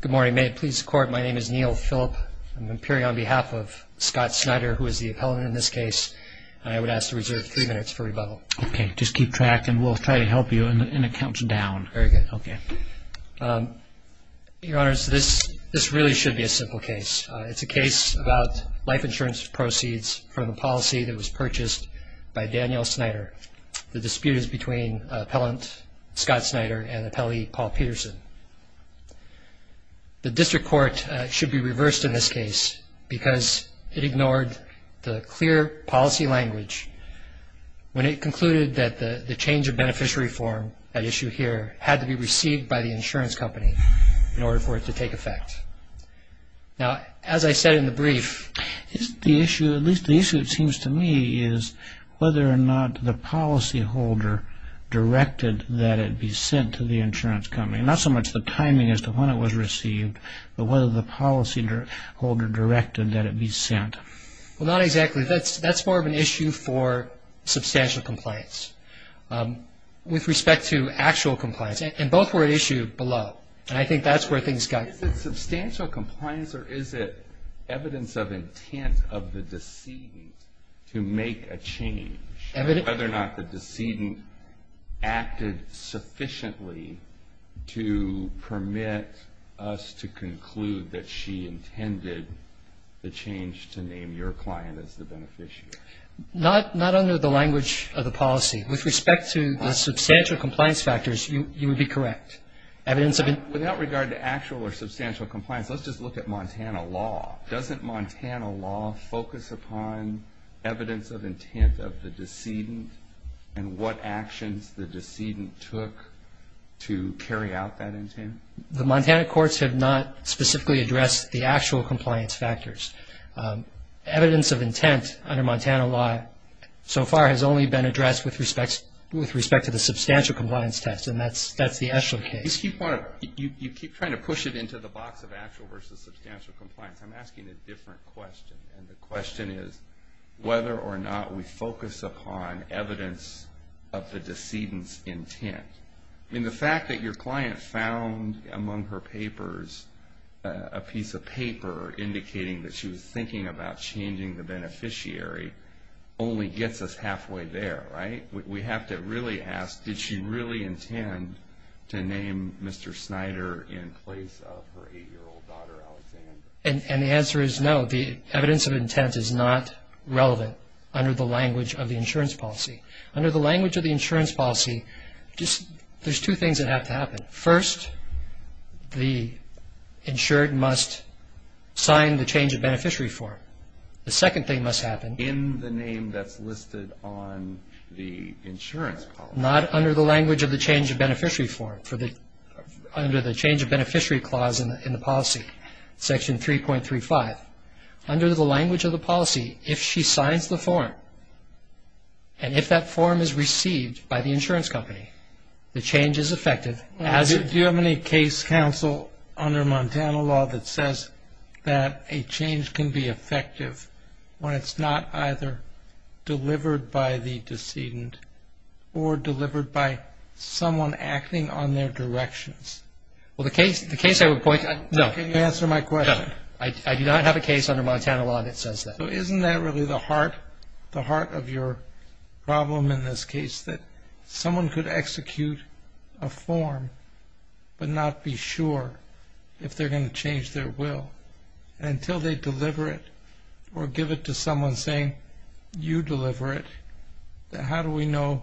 Good morning. May it please the Court, my name is Neil Phillip. I'm appearing on behalf of Scott Snyder, who is the appellant in this case, and I would ask to reserve three minutes for rebuttal. Okay. Just keep track and we'll try to help you and it counts down. Very good. Okay. Your Honors, this really should be a simple case. It's a case about life insurance proceeds from a policy that was purchased by Daniel Snyder. The dispute is between Appellant Scott Snyder and Appellee Paul Peterson. The District Court should be reversed in this case because it ignored the clear policy language when it concluded that the change of beneficiary form, that issue here, had to be received by the insurance company in order for it to take effect. Now, as I said in the brief... The issue, at least the issue it seems to me, is whether or not the policyholder directed that it be sent to the insurance company. Not so much the timing as to when it was received, but whether the policyholder directed that it be sent. Well, not exactly. That's more of an issue for substantial compliance. With respect to actual compliance, and both were at issue below, and I think that's where things got... Is it substantial compliance or is it evidence of intent of the decedent to make a change? Whether or not the decedent acted sufficiently to permit us to conclude that she intended the change to name your client as the beneficiary. Not under the language of the policy. With respect to the substantial compliance factors, you would be correct. Without regard to actual or substantial compliance, let's just look at Montana law. Doesn't Montana law focus upon evidence of intent of the decedent and what actions the decedent took to carry out that intent? The Montana courts have not specifically addressed the actual compliance factors. Evidence of intent under Montana law so far has only been addressed with respect to the substantial compliance test, and that's the Eschler case. You keep trying to push it into the box of actual versus substantial compliance. I'm asking a different question, and the question is whether or not we focus upon evidence of the decedent's intent. The fact that your client found among her papers a piece of paper indicating that she was thinking about changing the beneficiary only gets us halfway there, right? We have to really ask, did she really intend to name Mr. Snyder in place of her 8-year-old daughter, Alexandra? And the answer is no. The evidence of intent is not relevant under the language of the insurance policy. Under the language of the insurance policy, there's two things that have to happen. First, the insured must sign the change of beneficiary form. The second thing must happen. In the name that's listed on the insurance policy. Not under the language of the change of beneficiary form, under the change of beneficiary clause in the policy, section 3.35. Under the language of the policy, if she signs the form, and if that form is received by the insurance company, the change is effective. Do you have any case counsel under Montana law that says that a change can be effective when it's not either delivered by the decedent or delivered by someone acting on their directions? Well, the case I would point to, no. Can you answer my question? I do not have a case under Montana law that says that. Isn't that really the heart of your problem in this case? That someone could execute a form but not be sure if they're going to change their will? Until they deliver it or give it to someone saying, you deliver it, how do we know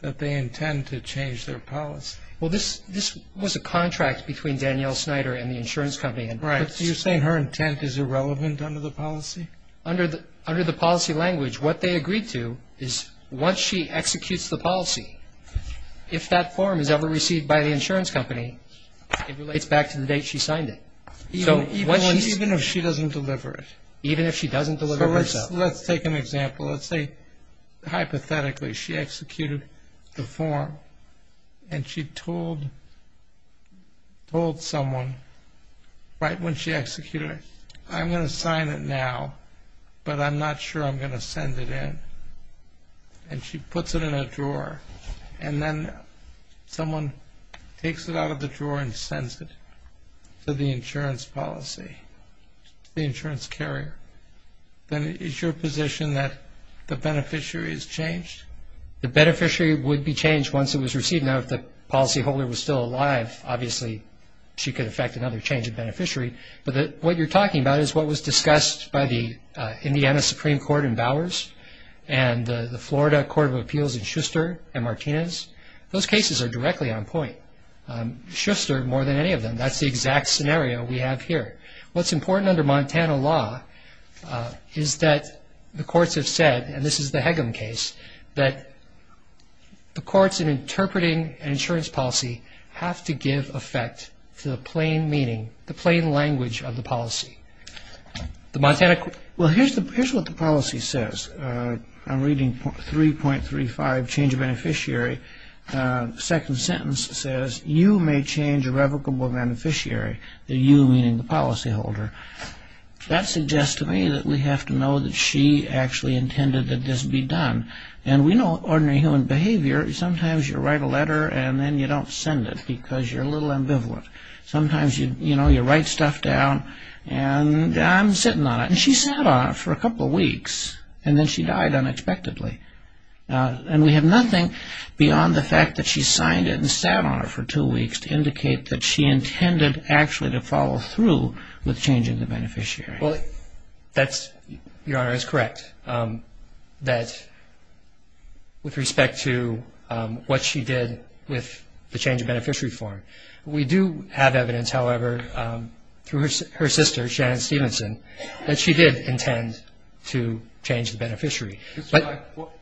that they intend to change their policy? Well, this was a contract between Danielle Snyder and the insurance company. But you're saying her intent is irrelevant under the policy? Under the policy language, what they agreed to is once she executes the policy, if that form is ever received by the insurance company, it relates back to the date she signed it. Even if she doesn't deliver it? Even if she doesn't deliver it herself. So let's take an example. Let's say, hypothetically, she executed the form and she told someone right when she executed it, I'm going to sign it now, but I'm not sure I'm going to send it in. And she puts it in a drawer. And then someone takes it out of the drawer and sends it to the insurance policy, the insurance carrier. Then is your position that the beneficiary is changed? The beneficiary would be changed once it was received. Now, if the policyholder was still alive, obviously she could affect another change of beneficiary. But what you're talking about is what was discussed by the Indiana Supreme Court in Bowers and the Florida Court of Appeals in Schuster and Martinez. Those cases are directly on point. Schuster, more than any of them, that's the exact scenario we have here. What's important under Montana law is that the courts have said, and this is the Hegum case, that the courts in interpreting an insurance policy have to give effect to the plain meaning, the plain language of the policy. Well, here's what the policy says. I'm reading 3.35, change of beneficiary. Second sentence says, you may change irrevocable beneficiary, the you meaning the policyholder. That suggests to me that we have to know that she actually intended that this be done. And we know ordinary human behavior, sometimes you write a letter and then you don't send it because you're a little ambivalent. Sometimes, you know, you write stuff down and I'm sitting on it. And she sat on it for a couple of weeks and then she died unexpectedly. And we have nothing beyond the fact that she signed it and sat on it for two weeks to indicate that she intended actually to follow through with changing the beneficiary. Well, that's, Your Honor, is correct, that with respect to what she did with the change of beneficiary form. We do have evidence, however, through her sister, Shannon Stevenson, that she did intend to change the beneficiary.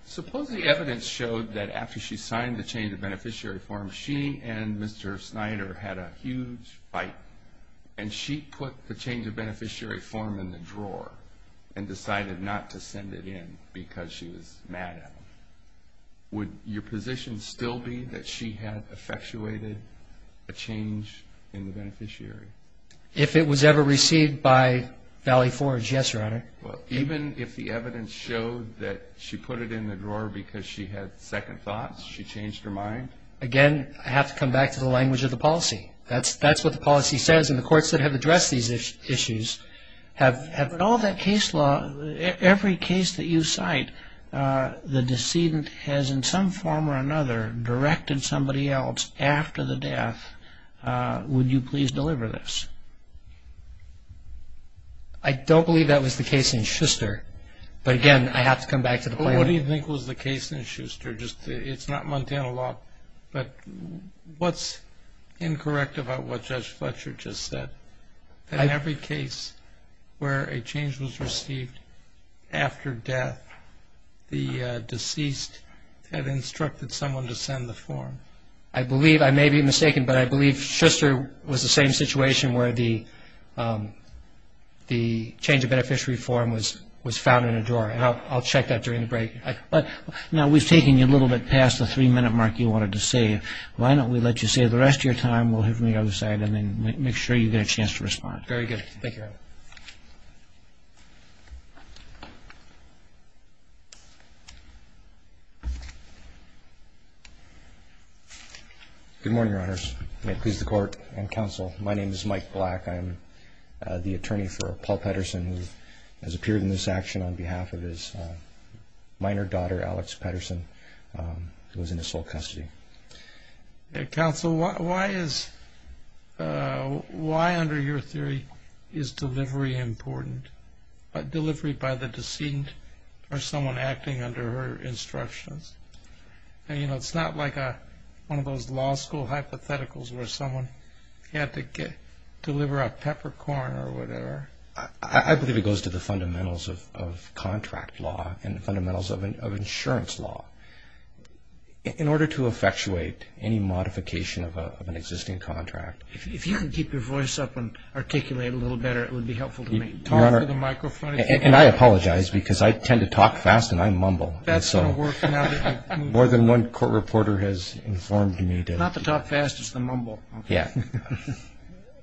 Suppose the evidence showed that after she signed the change of beneficiary form, she and Mr. Snyder had a huge fight and she put the change of beneficiary form in the drawer and decided not to send it in because she was mad at him. Would your position still be that she had effectuated a change in the beneficiary? If it was ever received by Valley Forge, yes, Your Honor. Okay. Even if the evidence showed that she put it in the drawer because she had second thoughts, she changed her mind? Again, I have to come back to the language of the policy. That's what the policy says and the courts that have addressed these issues have... But all that case law, every case that you cite, the decedent has in some form or another directed somebody else after the death, would you please deliver this? I don't believe that was the case in Schuster, but again, I have to come back to the point... What do you think was the case in Schuster? It's not Montana Law, but what's incorrect about what Judge Fletcher just said? In every case where a change was received after death, the deceased had instructed someone to send the form. I may be mistaken, but I believe Schuster was the same situation where the change of beneficiary form was found in a drawer. I'll check that during the break. Now, we've taken you a little bit past the three-minute mark you wanted to save. Why don't we let you save the rest of your time? We'll hear from the other side and then make sure you get a chance to respond. Very good. Thank you, Your Honor. Good morning, Your Honors. May it please the Court and Counsel, my name is Mike Black. I am the attorney for Paul Pedersen, who has appeared in this action on behalf of his minor daughter, Alex Pedersen, who was in his sole custody. Counsel, why under your theory is delivery important? Delivery by the decedent or someone acting under her instructions? It's not like one of those law school hypotheticals where someone had to deliver a peppercorn or whatever. I believe it goes to the fundamentals of contract law and the fundamentals of insurance law. In order to effectuate any modification of an existing contract. If you can keep your voice up and articulate a little better, it would be helpful to me. Talk to the microphone. And I apologize because I tend to talk fast and I mumble. That's going to work now that you've moved. More than one court reporter has informed me. Not the talk fast, it's the mumble. Yeah.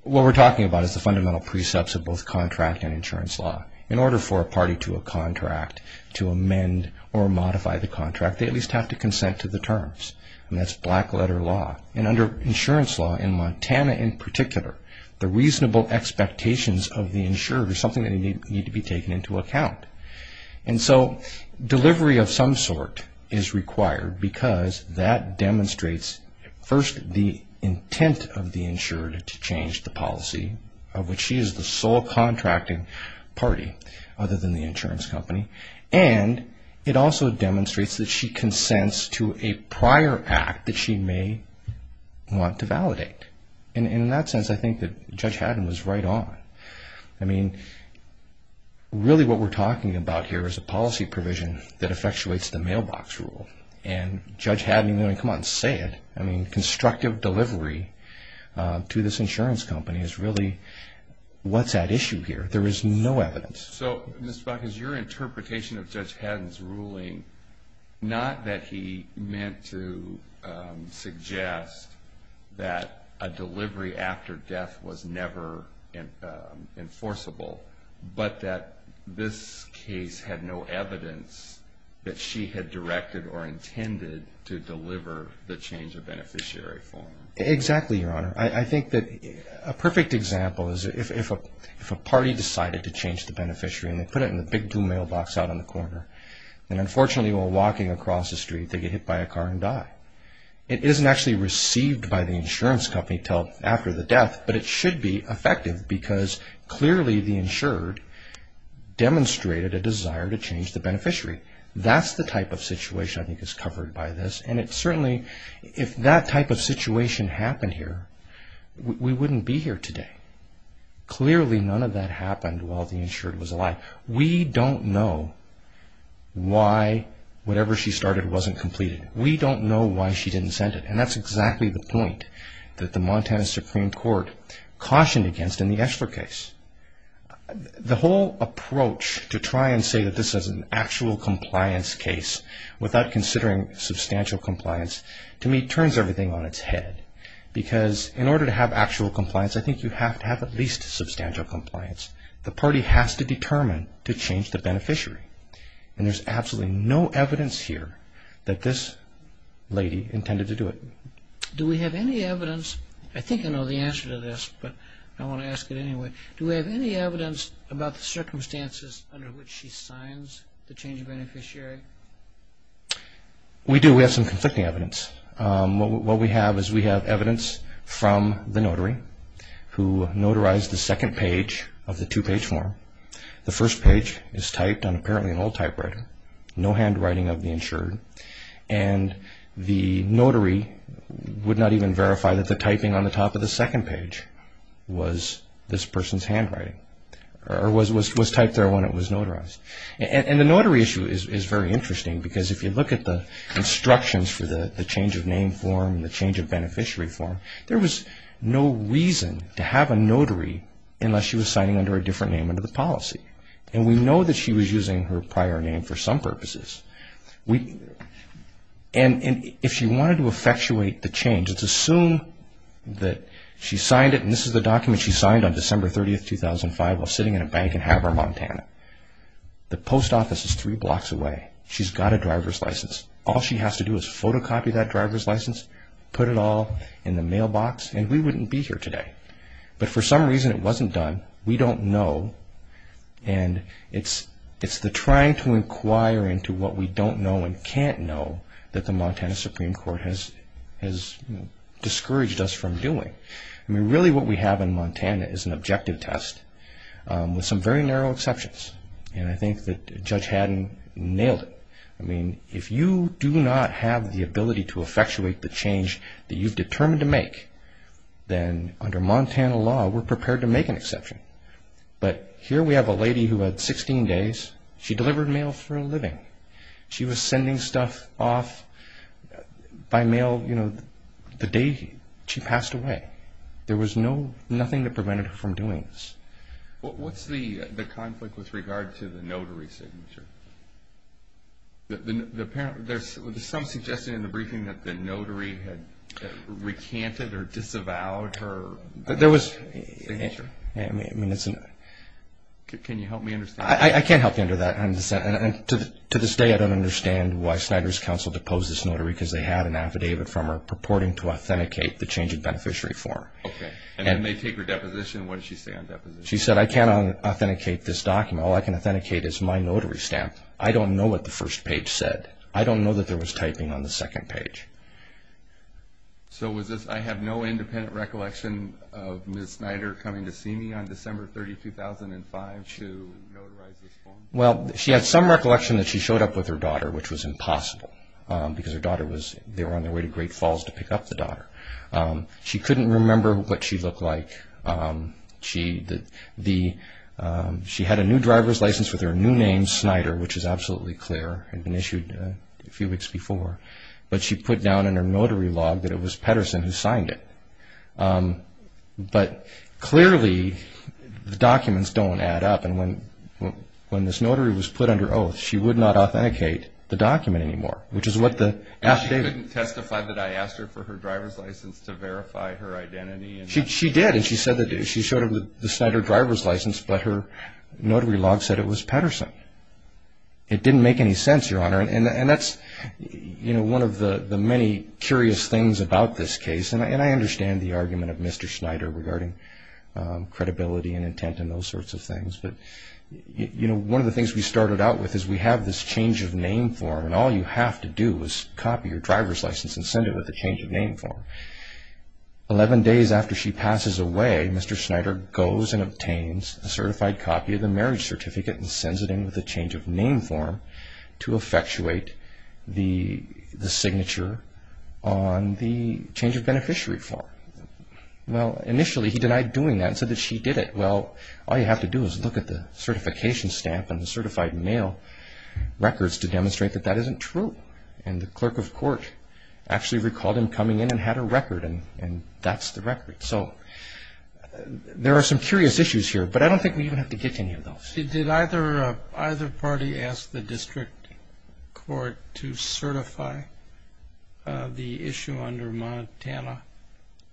What we're talking about is the fundamental precepts of both contract and insurance law. In order for a party to a contract, to amend or modify the contract, they at least have to consent to the terms. And that's black letter law. And under insurance law, in Montana in particular, the reasonable expectations of the insurer are something that need to be taken into account. And so delivery of some sort is required because that demonstrates first the intent of the insured to change the policy, of which she is the sole contracting party other than the insurance company. And it also demonstrates that she consents to a prior act that she may want to validate. And in that sense, I think that Judge Haddon was right on. I mean, really what we're talking about here is a policy provision that effectuates the mailbox rule. And Judge Haddon, I mean, come on, say it. I mean, constructive delivery to this insurance company is really what's at issue here. There is no evidence. So, Mr. Buck, is your interpretation of Judge Haddon's ruling not that he meant to suggest that a delivery after death was never enforceable, but that this case had no evidence that she had directed or intended to deliver the change of beneficiary form? Exactly, Your Honor. I think that a perfect example is if a party decided to change the beneficiary and they put it in the big blue mailbox out on the corner. And unfortunately, while walking across the street, they get hit by a car and die. It isn't actually received by the insurance company until after the death, but it should be effective because clearly the insured demonstrated a desire to change the beneficiary. That's the type of situation I think is covered by this. And it certainly, if that type of situation happened here, we wouldn't be here today. Clearly, none of that happened while the insured was alive. We don't know why whatever she started wasn't completed. We don't know why she didn't send it. And that's exactly the point that the Montana Supreme Court cautioned against in the Eschler case. The whole approach to try and say that this is an actual compliance case without considering substantial compliance, to me, turns everything on its head. Because in order to have actual compliance, I think you have to have at least substantial compliance. The party has to determine to change the beneficiary. And there's absolutely no evidence here that this lady intended to do it. Do we have any evidence? I think I know the answer to this, but I want to ask it anyway. Do we have any evidence about the circumstances under which she signs the change of beneficiary? We do. We have some conflicting evidence. What we have is we have evidence from the notary who notarized the second page of the two-page form. The first page is typed on apparently an old typewriter. No handwriting of the insured. And the notary would not even verify that the typing on the top of the second page was this person's handwriting or was typed there when it was notarized. And the notary issue is very interesting because if you look at the instructions for the change of name form, the change of beneficiary form, there was no reason to have a notary unless she was signing under a different name under the policy. And we know that she was using her prior name for some purposes. And if she wanted to effectuate the change, let's assume that she signed it and this is the document she signed on December 30, 2005 while sitting in a bank in Havre, Montana. The post office is three blocks away. She's got a driver's license. All she has to do is photocopy that driver's license, put it all in the mailbox, and we wouldn't be here today. But for some reason it wasn't done. We don't know. And it's the trying to inquire into what we don't know and can't know that the Montana Supreme Court has discouraged us from doing. I mean, really what we have in Montana is an objective test with some very narrow exceptions. And I think that Judge Haddon nailed it. I mean, if you do not have the ability to effectuate the change that you've determined to make, but here we have a lady who had 16 days. She delivered mail for a living. She was sending stuff off by mail, you know, the day she passed away. There was nothing that prevented her from doing this. What's the conflict with regard to the notary signature? There's some suggestion in the briefing that the notary had recanted or disavowed her signature. Signature? Can you help me understand? I can't help you understand. To this day I don't understand why Snyder's counsel deposed this notary because they had an affidavit from her purporting to authenticate the change of beneficiary form. Okay. And then they take her deposition. What did she say on deposition? She said, I can't authenticate this document. All I can authenticate is my notary stamp. I don't know what the first page said. I don't know that there was typing on the second page. So I have no independent recollection of Ms. Snyder coming to see me on December 30, 2005 to notarize this form? Well, she had some recollection that she showed up with her daughter, which was impossible, because they were on their way to Great Falls to pick up the daughter. She couldn't remember what she looked like. She had a new driver's license with her new name, Snyder, which is absolutely clear. It had been issued a few weeks before. But she put down in her notary log that it was Pedersen who signed it. But clearly, the documents don't add up. And when this notary was put under oath, she would not authenticate the document anymore, which is what the affidavit said. She couldn't testify that I asked her for her driver's license to verify her identity? She did, and she showed up with the Snyder driver's license, but her notary log said it was Pedersen. It didn't make any sense, Your Honor. And that's one of the many curious things about this case. And I understand the argument of Mr. Snyder regarding credibility and intent and those sorts of things. But one of the things we started out with is we have this change of name form, and all you have to do is copy your driver's license and send it with a change of name form. Eleven days after she passes away, Mr. Snyder goes and obtains a certified copy of the marriage certificate and sends it in with a change of name form to effectuate the signature on the change of beneficiary form. Well, initially he denied doing that and said that she did it. Well, all you have to do is look at the certification stamp and the certified mail records to demonstrate that that isn't true. And the clerk of court actually recalled him coming in and had a record, and that's the record. So there are some curious issues here, but I don't think we even have to get to any of those. See, did either party ask the district court to certify the issue under Montana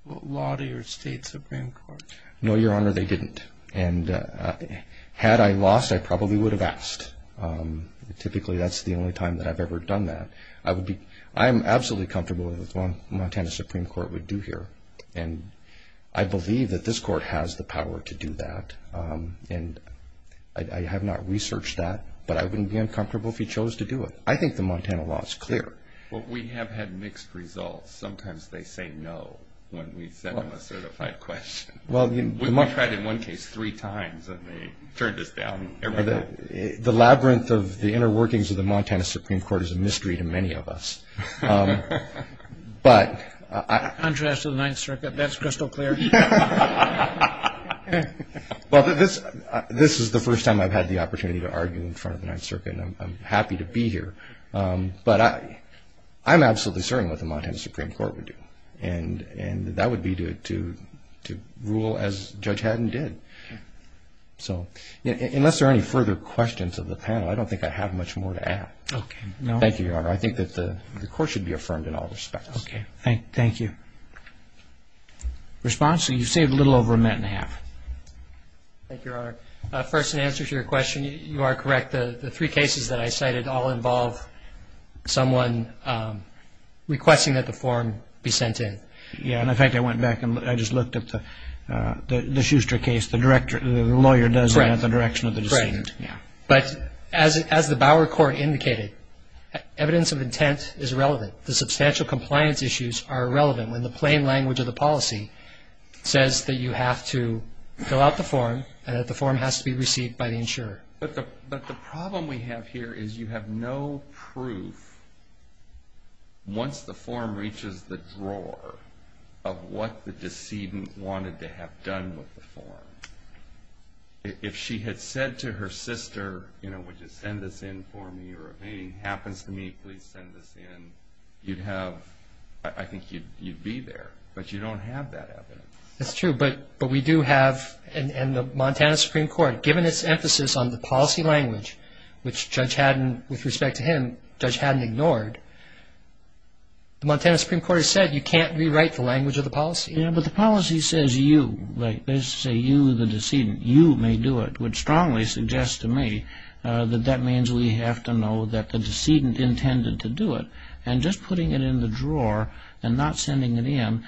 law to your state Supreme Court? No, Your Honor, they didn't. And had I lost, I probably would have asked. Typically that's the only time that I've ever done that. I am absolutely comfortable with what Montana Supreme Court would do here, and I believe that this court has the power to do that. And I have not researched that, but I wouldn't be uncomfortable if he chose to do it. I think the Montana law is clear. Well, we have had mixed results. Sometimes they say no when we send them a certified question. We tried in one case three times, and they turned us down every time. The labyrinth of the inner workings of the Montana Supreme Court is a mystery to many of us. In contrast to the Ninth Circuit, that's crystal clear. Well, this is the first time I've had the opportunity to argue in front of the Ninth Circuit, and I'm happy to be here. But I'm absolutely certain what the Montana Supreme Court would do, and that would be to rule as Judge Haddon did. So unless there are any further questions of the panel, I don't think I have much more to add. Okay. Thank you, Your Honor. I think that the court should be affirmed in all respects. Okay. Thank you. Response? You've saved a little over a minute and a half. Thank you, Your Honor. First, in answer to your question, you are correct. The three cases that I cited all involve someone requesting that the form be sent in. Yeah, and in fact, I went back and I just looked up the Schuster case. The lawyer does that at the direction of the defendant. But as the Bauer court indicated, evidence of intent is relevant. The substantial compliance issues are relevant when the plain language of the policy says that you have to fill out the form and that the form has to be received by the insurer. But the problem we have here is you have no proof, once the form reaches the drawer, of what the decedent wanted to have done with the form. If she had said to her sister, you know, would you send this in for me, or if anything happens to me, please send this in, you'd have, I think you'd be there, but you don't have that evidence. That's true, but we do have, and the Montana Supreme Court, given its emphasis on the policy language, which Judge Haddon, with respect to him, Judge Haddon ignored, the Montana Supreme Court has said you can't rewrite the language of the policy. Yeah, but the policy says you, like they say you, the decedent, you may do it, which strongly suggests to me that that means we have to know that the decedent intended to do it. And just putting it in the drawer and not sending it in,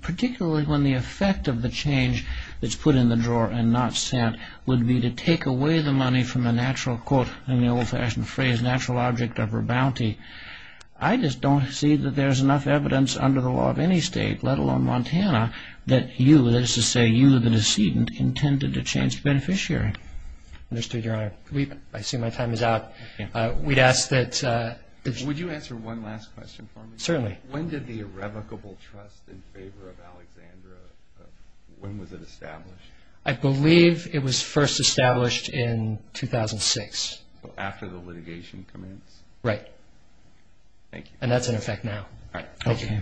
particularly when the effect of the change that's put in the drawer and not sent, would be to take away the money from the natural, quote, in the old-fashioned phrase, natural object of her bounty. I just don't see that there's enough evidence under the law of any state, let alone Montana, that you, that is to say you, the decedent, intended to change the beneficiary. Understood, Your Honor. I see my time is out. Would you answer one last question for me? Certainly. When did the irrevocable trust in favor of Alexandra, when was it established? I believe it was first established in 2006. So after the litigation commenced? Right. Thank you. And that's in effect now. All right, thank you.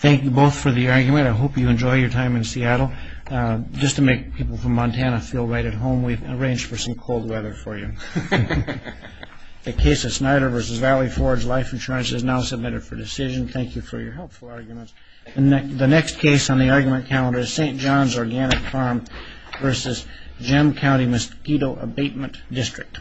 Thank you both for the argument. I hope you enjoy your time in Seattle. Just to make people from Montana feel right at home, we've arranged for some cold weather for you. The case of Snyder v. Valley Forge Life Insurance is now submitted for decision. Thank you for your helpful arguments. The next case on the argument calendar is St. John's Organic Farm v. Gem County Mosquito Abatement District.